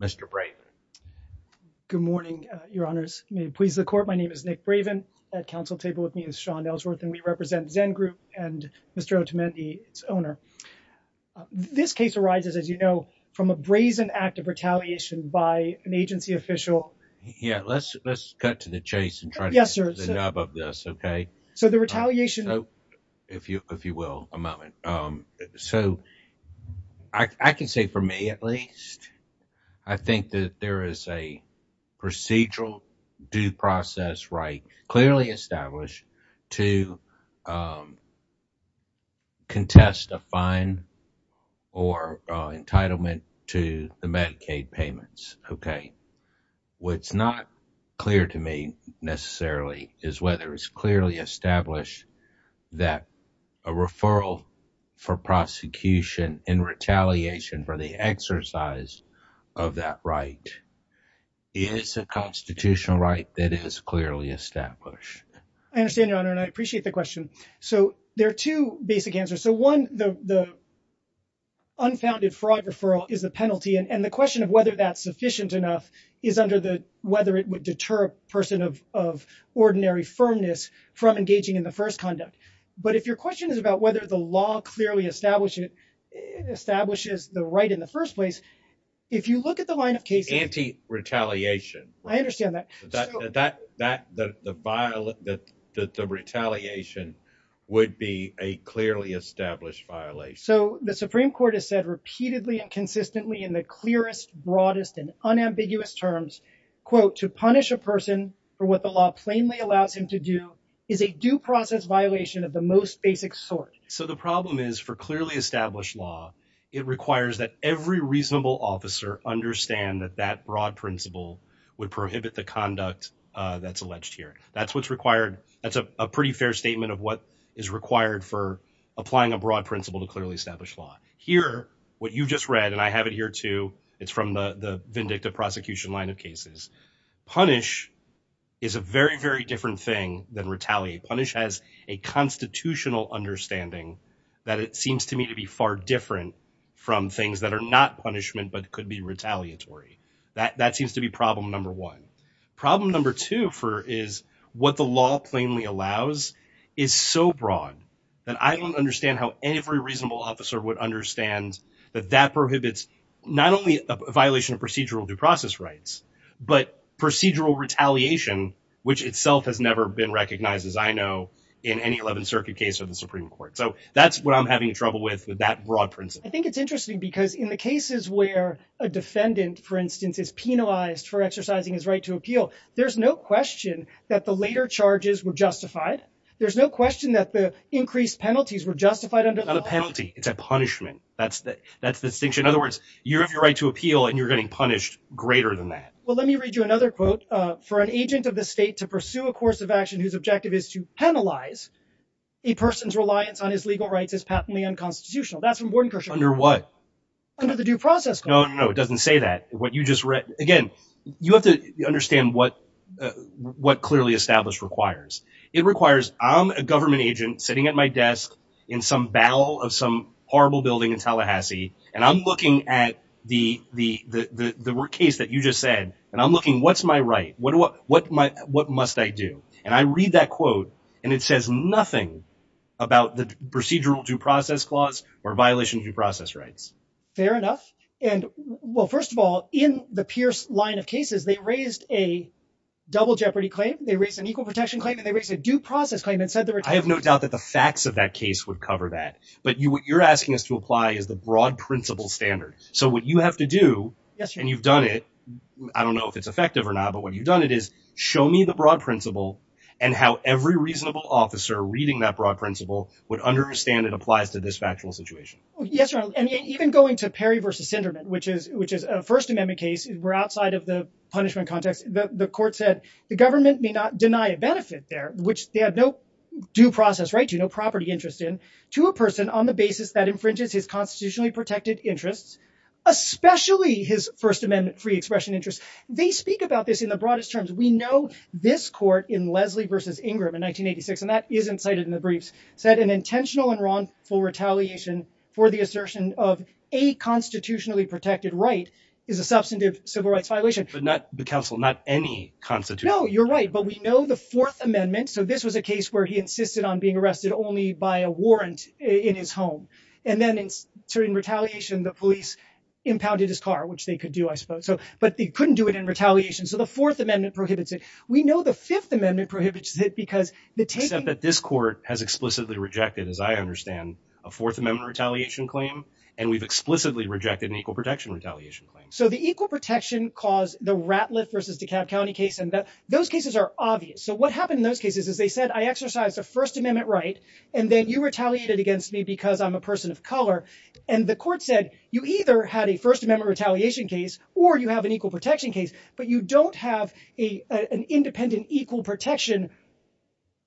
Mr. Braven. Good morning, your honors. May it please the court, my name is Nick Braven. At council table with me is Sean Ellsworth, and we represent ZEN Group and Mr. Otemendi, its owner. This case arises, as you know, from a brazen act of retaliation by an agency official. Yeah, let's cut to the chase and try to get to the nub of this, okay? So the retaliation... So, if you will, a moment. So, I can say for me at least, I think that there is a procedural due process right clearly established to contest a fine or entitlement to the Medicaid payments, okay? What's not clear to me necessarily is whether it's clearly established that a referral for prosecution in retaliation for the exercise of that right is a constitutional right that is clearly established. I understand, your honor, and I appreciate the question. So, there are two basic answers. So, one, the unfounded fraud referral is the penalty, and the question of whether that's sufficient enough is under the whether it would deter a person of ordinary firmness from engaging in the first conduct. But if your question is about whether the law clearly establishes the right in the first place, if you look at the line of cases... Anti-retaliation. I understand that. The retaliation would be a clearly established violation. So, the Supreme Court has said repeatedly and consistently in the clearest, broadest, and unambiguous terms, quote, to punish a person for what the law plainly allows him to do is a due process violation of the most basic sort. So, the problem is for clearly established law, it requires that every reasonable officer understand that that broad principle would prohibit the conduct that's alleged here. That's what's required. That's a pretty fair statement of what is required for applying a broad principle to clearly establish law. Here, what you just read, and I have it here, too, it's from the vindictive prosecution line of cases. Punish is a very, very different thing than retaliate. Punish has a constitutional understanding that it seems to me to be far different from things that are not punishment but could be retaliatory. That seems to be problem number one. Problem number two is what the law plainly allows is so broad that I don't understand how every reasonable officer would understand that that prohibits not only a violation of procedural due process rights but procedural retaliation, which itself has never been recognized, as I know, in any 11th Circuit case or the Supreme Court. So, that's what I'm having trouble with with that broad principle. I think it's interesting because in the cases where a defendant, for instance, is penalized for exercising his right to appeal, there's no question that the later charges were justified. There's no question that the increased penalties were justified under the law. Not a penalty. It's a punishment. That's the distinction. In other words, you have your right to appeal and you're getting punished greater than that. Well, let me read you another quote. For an agent of the state to pursue a course of action whose objective is to penalize a person's reliance on his legal rights is patently unconstitutional. That's from Gordon Kershaw. Under what? Under the due process clause. No, no, no. It doesn't say that. Again, you have to understand what clearly established requires. It requires, I'm a government agent sitting at my desk in some battle of some horrible building in Tallahassee, and I'm looking at the case that you just said, and I'm looking, what's my right? What must I do? And I read that quote, and it says nothing about the procedural due process clause or violation of due process rights. Fair enough. And, well, first of all, in the Pierce line of cases, they raised a double jeopardy claim. They raised an equal protection claim, and they raised a due process claim and said there were. I have no doubt that the facts of that case would cover that. But what you're asking us to apply is the broad principle standard. So what you have to do, and you've done it, I don't know if it's effective or not, but what you've done it is show me the broad principle and how every reasonable officer reading that broad principle would understand it applies to this factual situation. Yes, and even going to Perry versus Sinderman, which is which is a First Amendment case. We're outside of the punishment context. The court said the government may not deny a benefit there, which they have no due process. Right. You know, property interest in to a person on the basis that infringes his constitutionally protected interests, especially his First Amendment free expression interest. They speak about this in the broadest terms. We know this court in Leslie versus Ingram in 1986, and that isn't cited in the briefs, said an intentional and wrongful retaliation for the assertion of a constitutionally protected right is a substantive civil rights violation. But not the council, not any constitutional. No, you're right. But we know the Fourth Amendment. So this was a case where he insisted on being arrested only by a warrant in his home. And then in certain retaliation, the police impounded his car, which they could do, I suppose. So but they couldn't do it in retaliation. So the Fourth Amendment prohibits it. We know the Fifth Amendment prohibits it because they said that this court has explicitly rejected, as I understand, a Fourth Amendment retaliation claim. And we've explicitly rejected an equal protection retaliation claim. So the equal protection cause the Ratliff versus DeKalb County case and that those cases are obvious. So what happened in those cases, as they said, I exercised a First Amendment right. And then you retaliated against me because I'm a person of color. And the court said you either had a First Amendment retaliation case or you have an equal protection case, but you don't have a an independent equal protection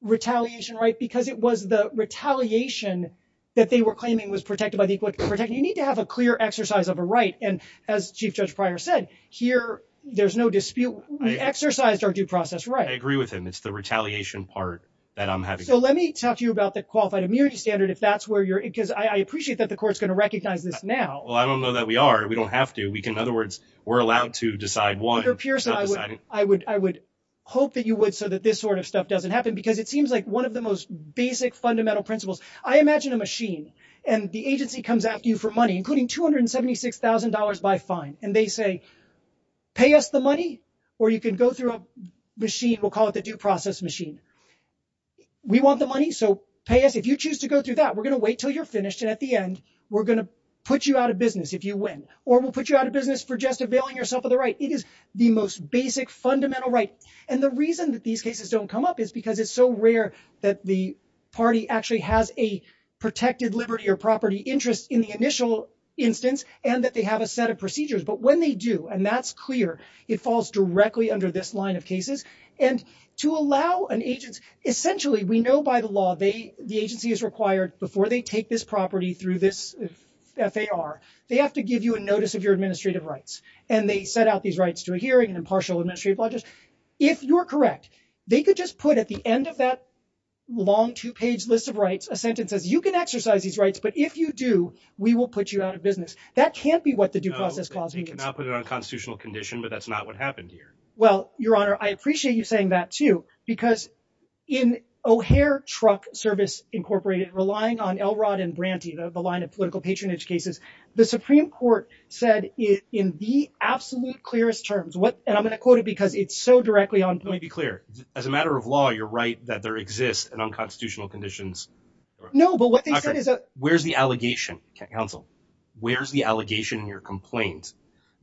retaliation. Right, because it was the retaliation that they were claiming was protected by the equal protection. You need to have a clear exercise of a right. And as Chief Judge Pryor said here, there's no dispute. We exercised our due process. Right. I agree with him. It's the retaliation part that I'm having. So let me talk to you about the qualified immunity standard, if that's where you're because I appreciate that the court's going to recognize this now. Well, I don't know that we are. We don't have to. We can. In other words, we're allowed to decide what appears. I would I would I would hope that you would so that this sort of stuff doesn't happen because it seems like one of the most basic fundamental principles. I imagine a machine and the agency comes after you for money, including two hundred and seventy six thousand dollars by fine. And they say, pay us the money or you can go through a machine. We'll call it the due process machine. We want the money. So pay us if you choose to go through that. We're going to wait till you're finished. And at the end, we're going to put you out of business if you win or we'll put you out of business for just availing yourself of the right. It is the most basic fundamental right. And the reason that these cases don't come up is because it's so rare that the party actually has a protected liberty or property interest in the initial instance and that they have a set of procedures. But when they do, and that's clear, it falls directly under this line of cases and to allow an agent. Essentially, we know by the law, they the agency is required before they take this property through this. If they are, they have to give you a notice of your administrative rights and they set out these rights to a hearing and impartial administrative budget. If you're correct, they could just put at the end of that long two page list of rights, a sentence as you can exercise these rights. But if you do, we will put you out of business. That can't be what the due process clause means. You cannot put it on a constitutional condition, but that's not what happened here. Well, Your Honor, I appreciate you saying that, too, because in O'Hare Truck Service Incorporated, relying on Elrod and Branty, the line of political patronage cases, the Supreme Court said in the absolute clearest terms. And I'm going to quote it because it's so directly on point. Let me be clear. As a matter of law, you're right that there exists an unconstitutional conditions. No, but what they said is that. Where's the allegation, counsel? Where's the allegation in your complaint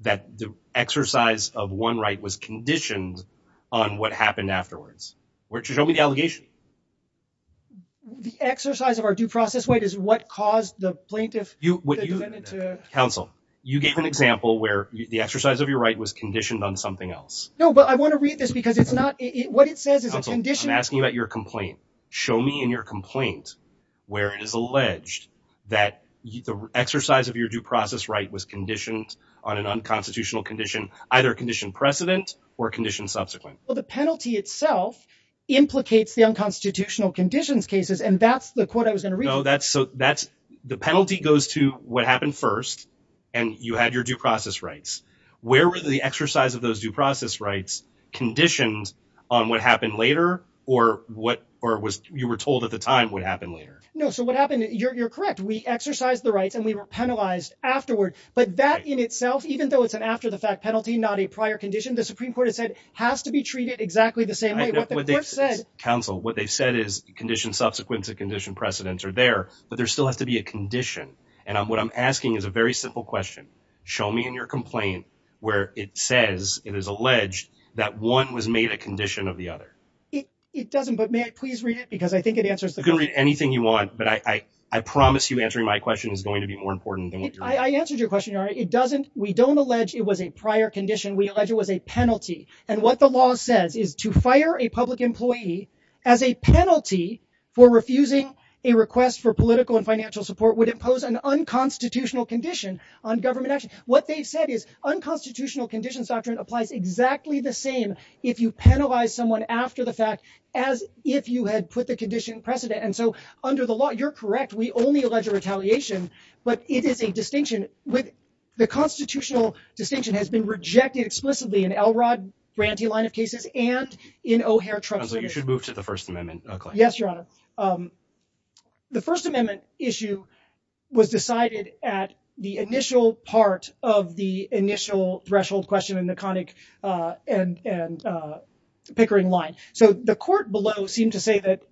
that the exercise of one right was conditioned on what happened afterwards? Show me the allegation. The exercise of our due process right is what caused the plaintiff to. Counsel, you gave an example where the exercise of your right was conditioned on something else. No, but I want to read this because it's not what it says is a condition. I'm asking about your complaint. Show me in your complaint where it is alleged that the exercise of your due process right was conditioned on an unconstitutional condition, either condition precedent or condition subsequent. Well, the penalty itself implicates the unconstitutional conditions cases, and that's the quote I was going to read. So that's so that's the penalty goes to what happened first and you had your due process rights. Where were the exercise of those due process rights conditioned on what happened later or what or was you were told at the time what happened later? No. So what happened? You're correct. We exercised the rights and we were penalized afterward. But that in itself, even though it's an after the fact penalty, not a prior condition, the Supreme Court has said has to be treated exactly the same way. Counsel, what they've said is condition subsequent to condition precedents are there, but there still has to be a condition. And what I'm asking is a very simple question. Show me in your complaint where it says it is alleged that one was made a condition of the other. It doesn't. But may I please read it? Because I think it answers the good read anything you want. But I promise you answering my question is going to be more important. I answered your question. It doesn't. We don't allege it was a prior condition. We allege it was a penalty. And what the law says is to fire a public employee as a penalty for refusing a request for political and financial support would impose an unconstitutional condition on government action. What they've said is unconstitutional conditions doctrine applies exactly the same if you penalize someone after the fact, as if you had put the condition precedent. And so under the law, you're correct. We only allege a retaliation, but it is a distinction with the constitutional distinction has been rejected explicitly in Elrod grantee line of cases and in O'Hare. So you should move to the First Amendment. Yes, Your Honor. The First Amendment issue was decided at the initial part of the initial threshold question in the conic and pickering line. So the court below seemed to say that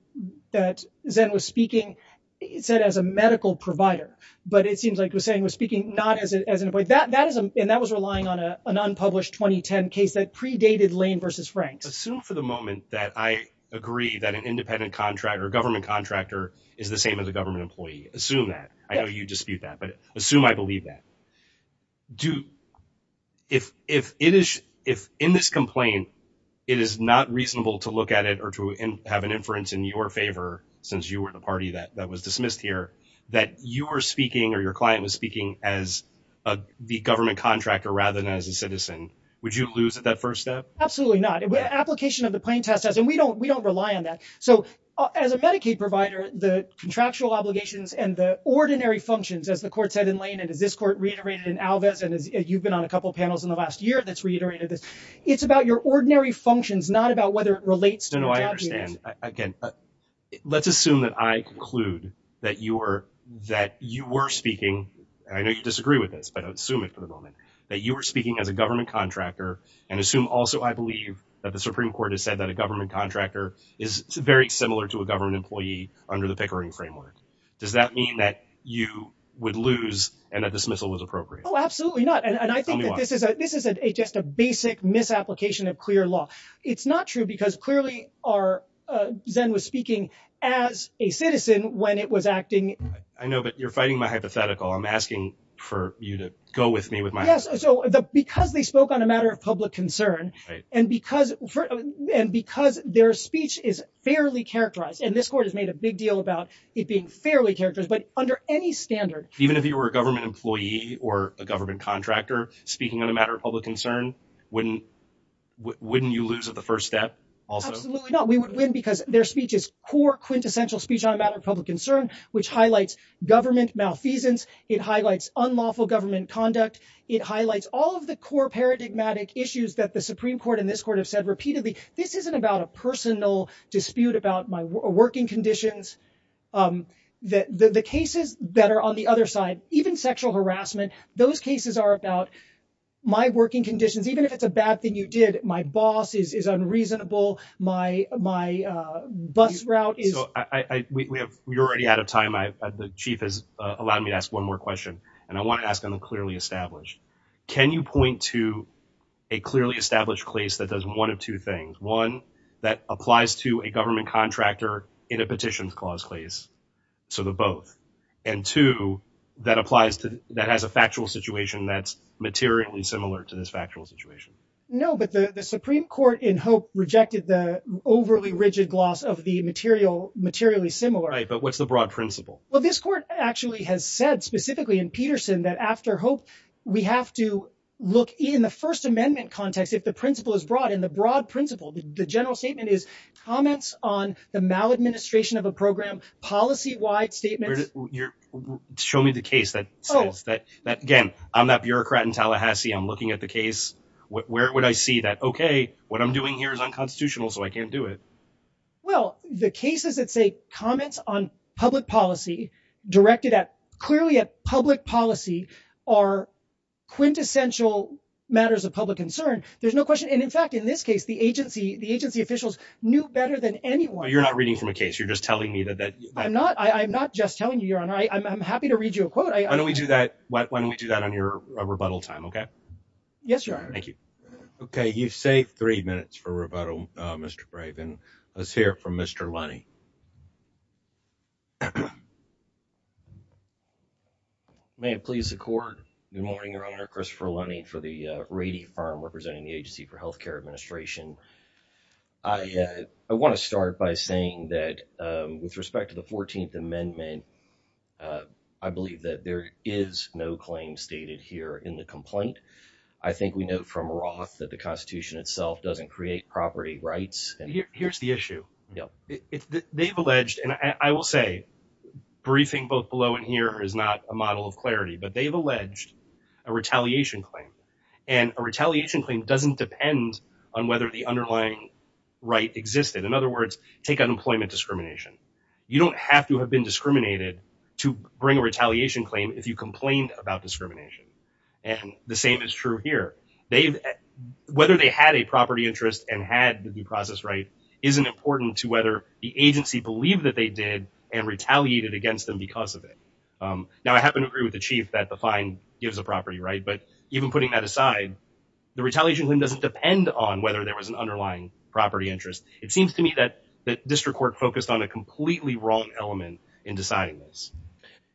that Zen was speaking, it said, as a medical provider. But it seems like Hussein was speaking not as an employee that that is. And that was relying on an unpublished 2010 case that predated Lane versus Frank. Assume for the moment that I agree that an independent contractor government contractor is the same as a government employee. Assume that I know you dispute that, but assume I believe that. Do if if it is if in this complaint, it is not reasonable to look at it or to have an inference in your favor, since you were the party that that was dismissed here that you were speaking or your client was speaking as the government contractor rather than as a citizen. Would you lose at that first step? Absolutely not. And we don't we don't rely on that. So as a Medicaid provider, the contractual obligations and the ordinary functions, as the court said in Lane, it is this court reiterated in Alves. And you've been on a couple of panels in the last year that's reiterated this. It's about your ordinary functions, not about whether it relates to no, I understand. Again, let's assume that I conclude that you were that you were speaking. I know you disagree with this, but assume it for the moment that you were speaking as a government contractor. And assume also, I believe that the Supreme Court has said that a government contractor is very similar to a government employee under the Pickering framework. Does that mean that you would lose and a dismissal was appropriate? Oh, absolutely not. And I think that this is a this is a just a basic misapplication of clear law. It's not true because clearly are Zen was speaking as a citizen when it was acting. I know, but you're fighting my hypothetical. I'm asking for you to go with me with my. Yes. So the because they spoke on a matter of public concern and because and because their speech is fairly characterized and this court has made a big deal about it being fairly characters. But under any standard, even if you were a government employee or a government contractor speaking on a matter of public concern, wouldn't wouldn't you lose at the first step? Absolutely not. We would win because their speech is core quintessential speech on a matter of public concern, which highlights government malfeasance. It highlights unlawful government conduct. It highlights all of the core paradigmatic issues that the Supreme Court in this court have said repeatedly. This isn't about a personal dispute about my working conditions. That the cases that are on the other side, even sexual harassment, those cases are about my working conditions. Even if it's a bad thing, you did. My boss is unreasonable. My my bus route is. You're already out of time. The chief has allowed me to ask one more question. And I want to ask him a clearly established. Can you point to a clearly established case that does one of two things? One that applies to a government contractor in a petitions clause case. So the both and two that applies to that has a factual situation that's materially similar to this factual situation. No, but the Supreme Court in Hope rejected the overly rigid gloss of the material materially similar. But what's the broad principle? Well, this court actually has said specifically in Peterson that after hope, we have to look in the First Amendment context. If the principle is broad in the broad principle, the general statement is comments on the maladministration of a program policy wide statement. Show me the case that that again, I'm not bureaucrat in Tallahassee. I'm looking at the case. Where would I see that? OK, what I'm doing here is unconstitutional, so I can't do it. Well, the cases that say comments on public policy directed at clearly a public policy are quintessential matters of public concern. There's no question. And in fact, in this case, the agency, the agency officials knew better than anyone. You're not reading from a case. You're just telling me that. I'm not. I'm not just telling you. You're on. I'm happy to read you a quote. I know we do that. Why don't we do that on your rebuttal time? OK, yes, you are. Thank you. OK, you say three minutes for rebuttal, Mr. Graven. Let's hear from Mr. Lonnie. May it please the court. Good morning, Your Honor. Christopher Lonnie for the Rady firm representing the Agency for Health Care Administration. I want to start by saying that with respect to the 14th Amendment, I believe that there is no claim stated here in the complaint. I think we know from Roth that the Constitution itself doesn't create property rights. Here's the issue. They've alleged and I will say briefing both below and here is not a model of clarity, but they've alleged a retaliation claim. And a retaliation claim doesn't depend on whether the underlying right existed. In other words, take unemployment discrimination. You don't have to have been discriminated to bring a retaliation claim if you complained about discrimination. And the same is true here. Whether they had a property interest and had the due process right isn't important to whether the agency believed that they did and retaliated against them because of it. Now, I happen to agree with the chief that the fine gives a property right. But even putting that aside, the retaliation doesn't depend on whether there was an underlying property interest. It seems to me that the district court focused on a completely wrong element in deciding this.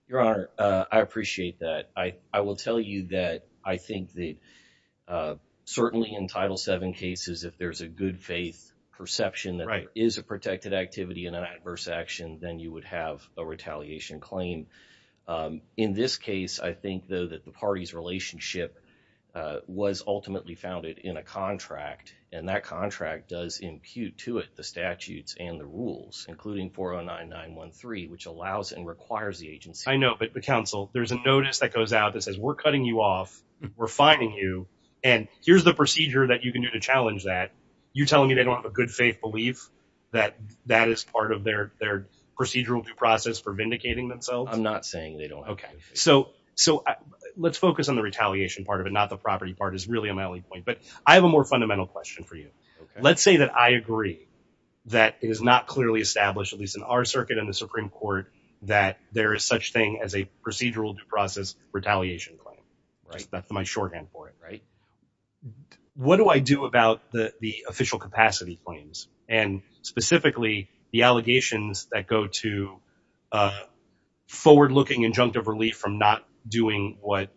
Your Honor, I appreciate that. I will tell you that I think that certainly in Title seven cases, if there's a good faith perception that is a protected activity in an adverse action, then you would have a retaliation claim. In this case, I think, though, that the party's relationship was ultimately founded in a contract. And that contract does impute to it the statutes and the rules, including 409913, which allows and requires the agency. I know, but the counsel, there's a notice that goes out that says we're cutting you off. We're fining you. And here's the procedure that you can do to challenge that. You're telling me they don't have a good faith belief that that is part of their procedural due process for vindicating themselves. I'm not saying they don't. OK, so so let's focus on the retaliation part of it, not the property part is really a point. But I have a more fundamental question for you. Let's say that I agree that it is not clearly established, at least in our circuit in the Supreme Court, that there is such thing as a procedural due process retaliation claim. Right. That's my shorthand for it. Right. What do I do about the official capacity claims and specifically the allegations that go to forward looking injunctive relief from not doing what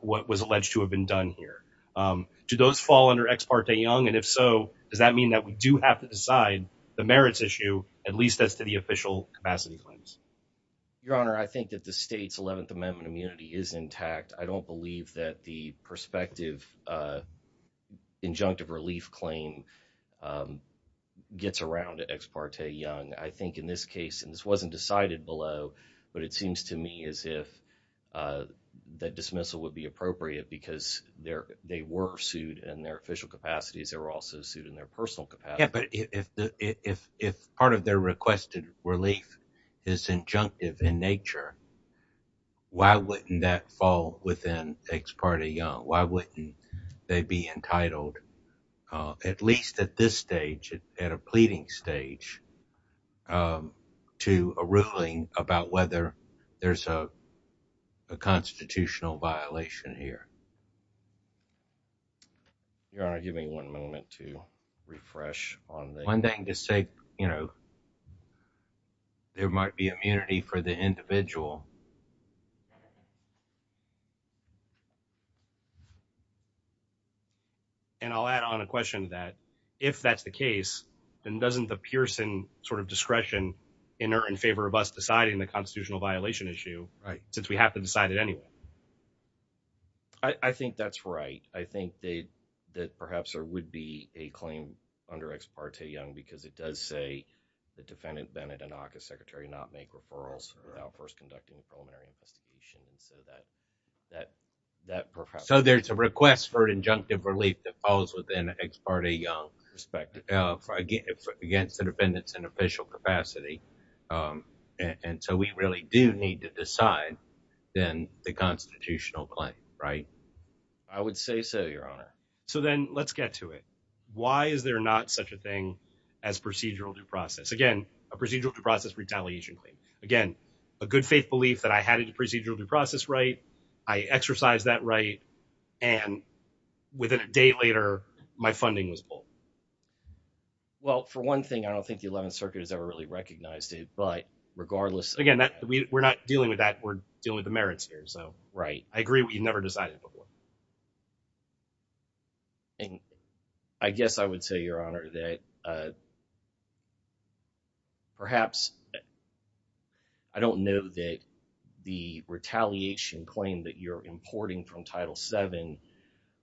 what was alleged to have been done here? Do those fall under ex parte young? And if so, does that mean that we do have to decide the merits issue, at least as to the official capacity claims? Your Honor, I think that the state's 11th Amendment immunity is intact. I don't believe that the prospective injunctive relief claim gets around to ex parte young. I think in this case, and this wasn't decided below, but it seems to me as if that dismissal would be appropriate because there they were sued and their official capacities are also sued in their personal. But if if if part of their requested relief is injunctive in nature. Why wouldn't that fall within ex parte young? Why wouldn't they be entitled, at least at this stage, at a pleading stage to a ruling about whether there's a constitutional violation here? Your Honor, give me one moment to refresh on the one thing to say, you know. There might be immunity for the individual. And I'll add on a question that if that's the case, then doesn't the Pearson sort of discretion in or in favor of us deciding the constitutional violation issue, right? Since we have to decide it anyway. I think that's right. I think that perhaps there would be a claim under ex parte young because it does say the defendant Bennett and office secretary not make referrals without first conducting a preliminary investigation. And so that that that. So there's a request for injunctive relief that falls within ex parte young respect against the defendants in official capacity. And so we really do need to decide then the constitutional claim. Right. I would say so. Your Honor. So then let's get to it. Why is there not such a thing as procedural due process? Again, a procedural due process retaliation. Again, a good faith belief that I had a procedural due process. Right. I exercise that right. And within a day later, my funding was full. Well, for one thing, I don't think the 11th Circuit has ever really recognized it. But regardless, again, we're not dealing with that. We're dealing with the merits here. So, right. I agree. We've never decided before. And I guess I would say, Your Honor, that perhaps I don't know that the retaliation claim that you're importing from Title seven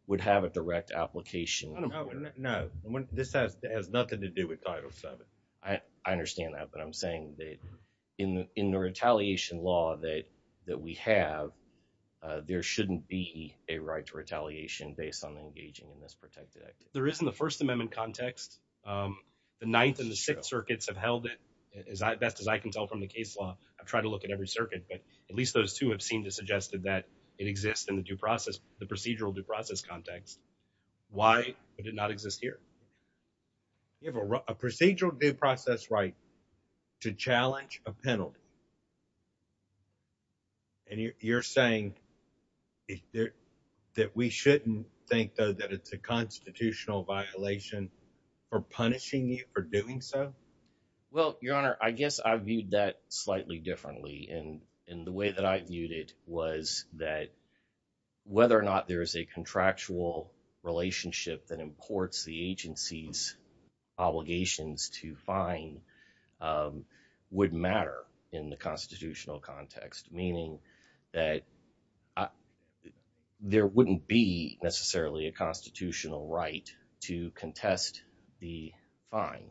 would have a direct application. No. This has nothing to do with Title seven. I understand that. But I'm saying that in the retaliation law that we have, there shouldn't be a right to retaliation based on engaging in this protected act. There isn't the First Amendment context. The ninth and the sixth circuits have held it as best as I can tell from the case law. I've tried to look at every circuit, but at least those two have seemed to suggested that it exists in the due process, the procedural due process context. Why would it not exist here? You have a procedural due process right to challenge a penalty. And you're saying that we shouldn't think, though, that it's a constitutional violation for punishing you for doing so? Well, Your Honor, I guess I viewed that slightly differently. And the way that I viewed it was that whether or not there is a contractual relationship that imports the agency's obligations to fine would matter in the constitutional context, meaning that there wouldn't be necessarily a constitutional right to contest the fine.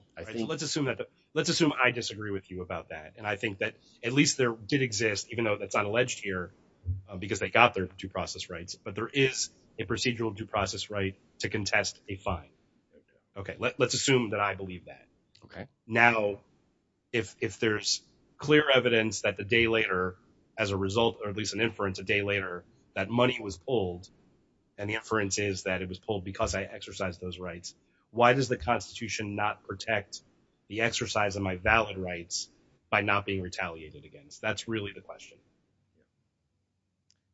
Let's assume I disagree with you about that. And I think that at least there did exist, even though that's not alleged here because they got their due process rights. But there is a procedural due process right to contest a fine. OK, let's assume that I believe that. Now, if there's clear evidence that the day later as a result, or at least an inference a day later, that money was pulled and the inference is that it was pulled because I exercised those rights. Why does the Constitution not protect the exercise of my valid rights by not being retaliated against?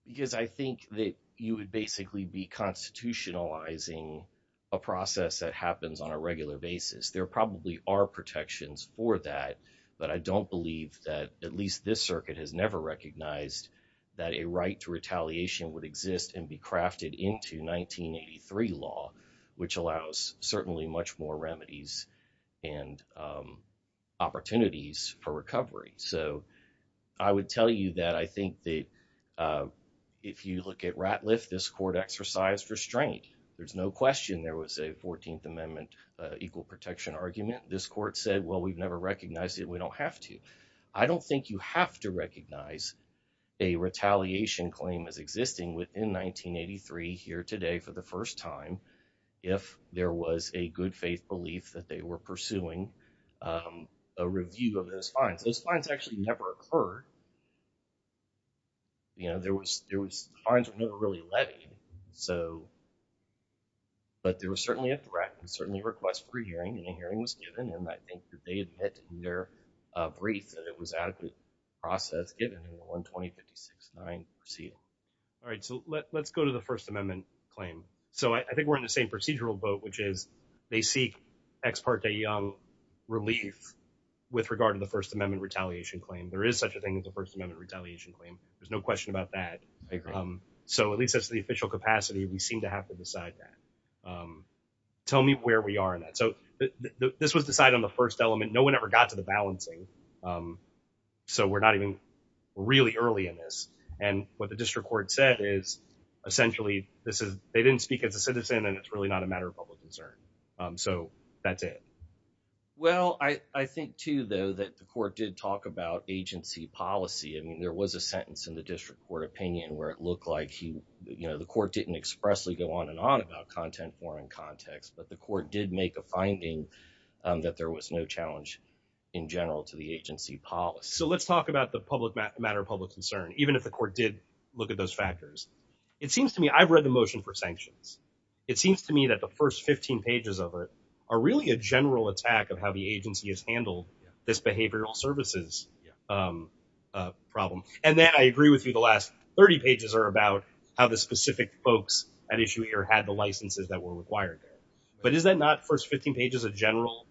Because I think that you would basically be constitutionalizing a process that happens on a regular basis. There probably are protections for that, but I don't believe that at least this circuit has never recognized that a right to retaliation would exist and be crafted into 1983 law, which allows certainly much more remedies and opportunities for recovery. So I would tell you that I think that if you look at Ratliff, this court exercised restraint. There's no question there was a 14th Amendment equal protection argument. This court said, well, we've never recognized it. We don't have to. I don't think you have to recognize a retaliation claim as existing within 1983 here today for the first time. If there was a good faith belief that they were pursuing a review of those fines, those fines actually never occurred. You know, there was there was fines were never really levied. So, but there was certainly a threat and certainly request for hearing and a hearing was given. And I think that they admit to their brief that it was adequate process given in the one twenty fifty six nine proceeding. All right. So let's go to the First Amendment claim. So I think we're in the same procedural boat, which is they seek ex parte relief with regard to the First Amendment retaliation claim. There is such a thing as the First Amendment retaliation claim. There's no question about that. So at least that's the official capacity. We seem to have to decide that. Tell me where we are in that. So this was decided on the first element. No one ever got to the balancing. So we're not even really early in this. And what the district court said is essentially this is they didn't speak as a citizen and it's really not a matter of public concern. So that's it. Well, I think, too, though, that the court did talk about agency policy. I mean, there was a sentence in the district court opinion where it looked like, you know, the court didn't expressly go on and on about content, form and context. But the court did make a finding that there was no challenge in general to the agency policy. So let's talk about the public matter of public concern. Even if the court did look at those factors, it seems to me I've read the motion for sanctions. It seems to me that the first 15 pages of it are really a general attack of how the agency has handled this behavioral services problem. And then I agree with you. The last 30 pages are about how the specific folks at issue here had the licenses that were required. But is that not first 15 pages, a general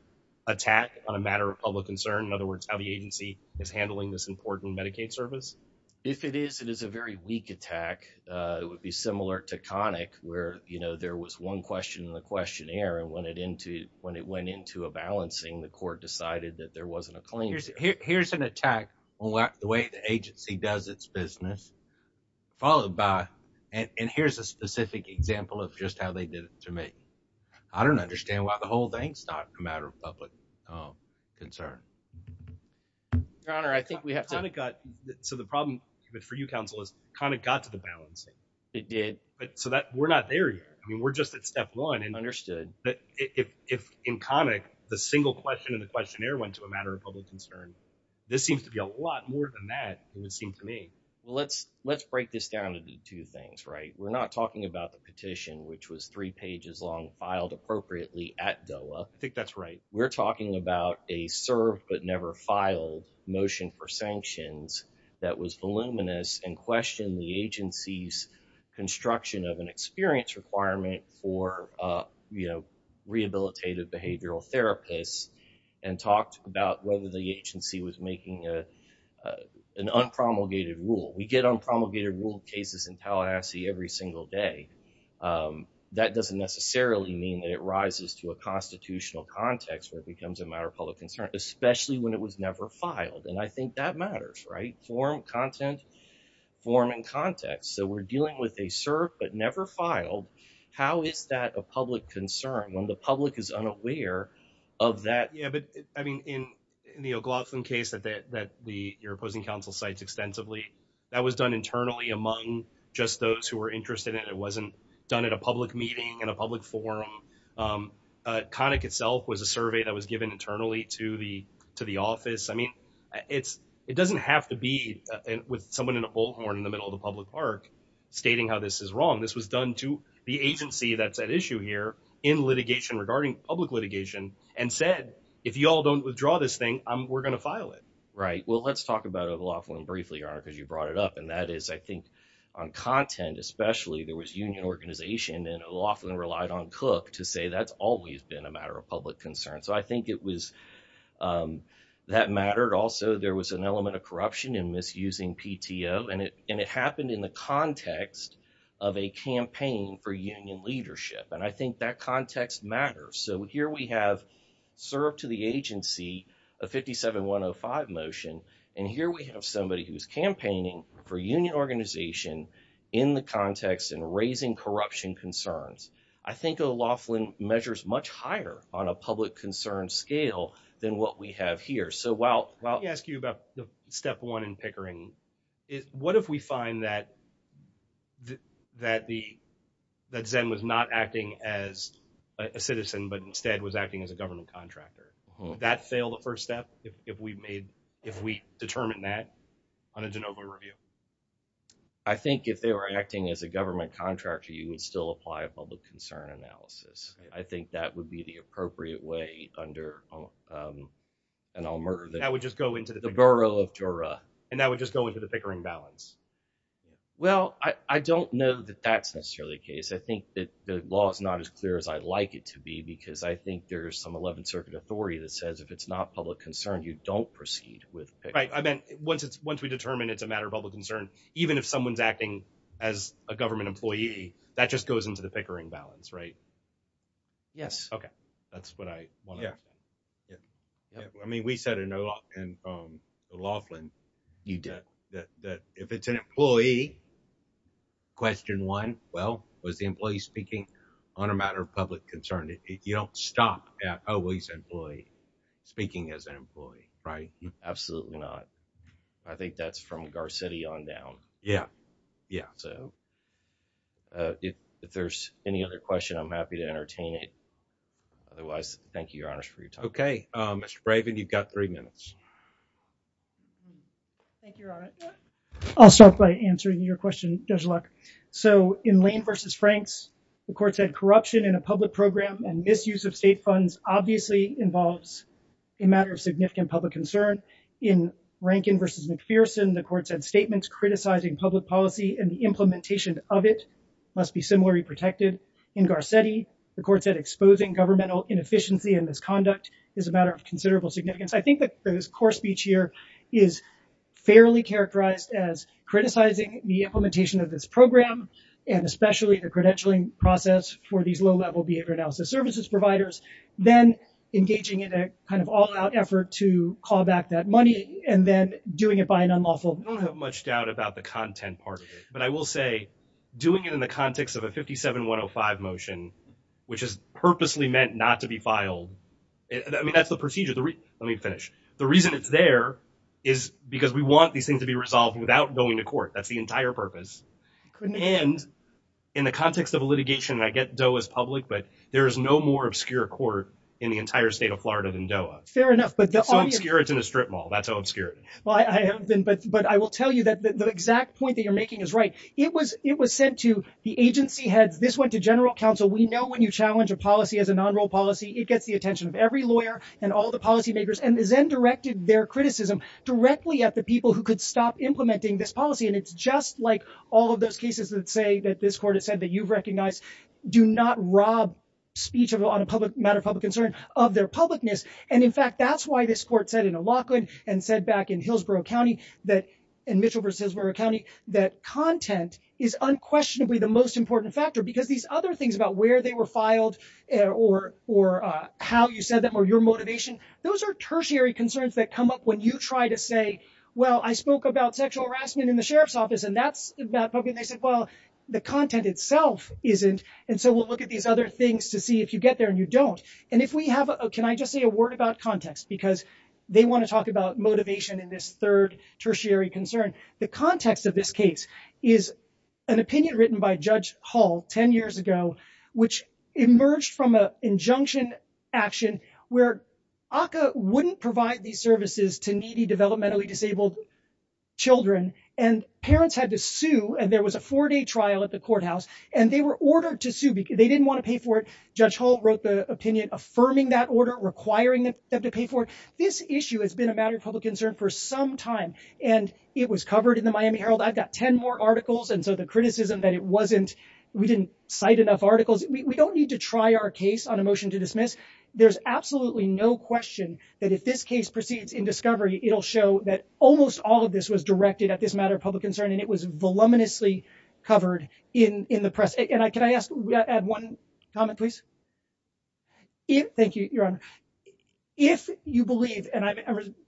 attack on a matter of public concern? In other words, how the agency is handling this important Medicaid service? If it is, it is a very weak attack. It would be similar to conic where, you know, there was one question in the questionnaire. And when it into when it went into a balancing, the court decided that there wasn't a claim. Here's an attack on the way the agency does its business, followed by. And here's a specific example of just how they did it to me. I don't understand why the whole thing's not a matter of public concern. Your Honor, I think we have kind of got to the problem. But for you, counsel is kind of got to the balance. It did. But so that we're not there yet. I mean, we're just at step one. And understood that if in comic, the single question in the questionnaire went to a matter of public concern. This seems to be a lot more than that. It would seem to me. Well, let's let's break this down into two things. Right. We're not talking about the petition, which was three pages long, filed appropriately at Doha. I think that's right. We're talking about a serve but never file motion for sanctions. That was voluminous and questioned the agency's construction of an experience requirement for rehabilitative behavioral therapists. And talked about whether the agency was making an unpromulgated rule. We get on promulgated rule cases in Tallahassee every single day. That doesn't necessarily mean that it rises to a constitutional context where it becomes a matter of public concern, especially when it was never filed. And I think that matters. Right. Form, content, form and context. So we're dealing with a serve but never filed. How is that a public concern when the public is unaware of that? Yeah, but I mean, in the O'Glotham case that that that the opposing counsel cites extensively, that was done internally among just those who were interested in it wasn't done at a public meeting in a public forum. Connick itself was a survey that was given internally to the to the office. I mean, it's it doesn't have to be with someone in a bullhorn in the middle of the public park stating how this is wrong. This was done to the agency that's at issue here in litigation regarding public litigation and said, if you all don't withdraw this thing, we're going to file it. Right. Well, let's talk about a lawful and briefly because you brought it up. And that is, I think, on content, especially there was union organization and often relied on Cook to say that's always been a matter of public concern. So I think it was that mattered. Also, there was an element of corruption and misusing PTO. And it and it happened in the context of a campaign for union leadership. And I think that context matters. So here we have served to the agency, a fifty seven one five motion. And here we have somebody who's campaigning for union organization in the context and raising corruption concerns. I think a lawful measures much higher on a public concern scale than what we have here. So well, well, I ask you about the step one in Pickering. What if we find that that the that Zen was not acting as a citizen, but instead was acting as a government contractor that failed the first step? If we made if we determine that on a de novo review. I think if they were acting as a government contractor, you would still apply a public concern analysis. I think that would be the appropriate way under and I'll murder. That would just go into the borough of Jura and that would just go into the Pickering balance. Well, I don't know that that's necessarily the case. I think that the law is not as clear as I'd like it to be, because I think there is some 11th Circuit authority that says if it's not public concern, you don't proceed with. Once we determine it's a matter of public concern, even if someone's acting as a government employee, that just goes into the Pickering balance, right? Yes. OK, that's what I want. Yeah. You don't stop at always employee speaking as an employee, right? Absolutely not. I think that's from Gar City on down. Yeah. Yeah. So if there's any other question, I'm happy to entertain it. Otherwise, thank you, Your Honor, for your time. OK, Mr. Raven, you've got three minutes. Thank you, Your Honor. I'll start by answering your question, Judge Luck. So in Lane versus Franks, the court said corruption in a public program and misuse of state funds obviously involves a matter of significant public concern in Rankin versus McPherson. The court said statements criticizing public policy and the implementation of it must be similarly protected in Gar City. The court said exposing governmental inefficiency and misconduct is a matter of considerable significance. I think that this court speech here is fairly characterized as criticizing the implementation of this program and especially the credentialing process for these low level behavior analysis services providers, then engaging in a kind of all out effort to call back that money and then doing it by an unlawful. I don't have much doubt about the content part of it, but I will say doing it in the context of a 57-105 motion, which is purposely meant not to be filed. I mean, that's the procedure. Let me finish. The reason it's there is because we want these things to be resolved without going to court. That's the entire purpose. And in the context of a litigation, and I get DOA is public, but there is no more obscure court in the entire state of Florida than DOA. Fair enough. It's so obscure it's in a strip mall. That's how obscure it is. But I will tell you that the exact point that you're making is right. It was sent to the agency heads. This went to general counsel. We know when you challenge a policy as a non-role policy, it gets the attention of every lawyer and all the policymakers and then directed their criticism directly at the people who could stop implementing this policy. And it's just like all of those cases that say that this court has said that you've recognized, do not rob speech on a matter of public concern of their publicness. And in fact, that's why this court said in Alachua and said back in Hillsborough County that, in Mitchell v. Hillsborough County, that content is unquestionably the most important factor. Because these other things about where they were filed or how you said them or your motivation, those are tertiary concerns that come up when you try to say, well, I spoke about sexual harassment in the sheriff's office and that's about public. And they said, well, the content itself isn't. And so we'll look at these other things to see if you get there and you don't. Can I just say a word about context? Because they want to talk about motivation in this third tertiary concern. The context of this case is an opinion written by Judge Hall 10 years ago, which emerged from an injunction action where ACCA wouldn't provide these services to needy, developmentally disabled children. And parents had to sue and there was a four day trial at the courthouse and they were ordered to sue because they didn't want to pay for it. Judge Hall wrote the opinion affirming that order requiring them to pay for it. This issue has been a matter of public concern for some time, and it was covered in the Miami Herald. I've got 10 more articles. And so the criticism that it wasn't, we didn't cite enough articles. We don't need to try our case on a motion to dismiss. There's absolutely no question that if this case proceeds in discovery, it'll show that almost all of this was directed at this matter of public concern. And it was voluminously covered in the press. And I can I ask one comment, please? Thank you, Your Honor. If you believe, and I'm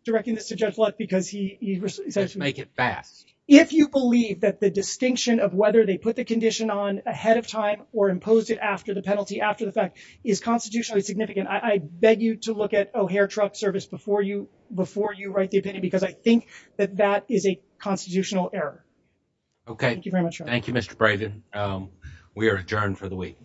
directing this to Judge Lutt because he says make it fast. If you believe that the distinction of whether they put the condition on ahead of time or imposed it after the penalty after the fact is constitutionally significant, I beg you to look at O'Hare truck service before you before you write the opinion, because I think that that is a constitutional error. Okay, thank you very much. Thank you, Mr. Brayden. We are adjourned for the week.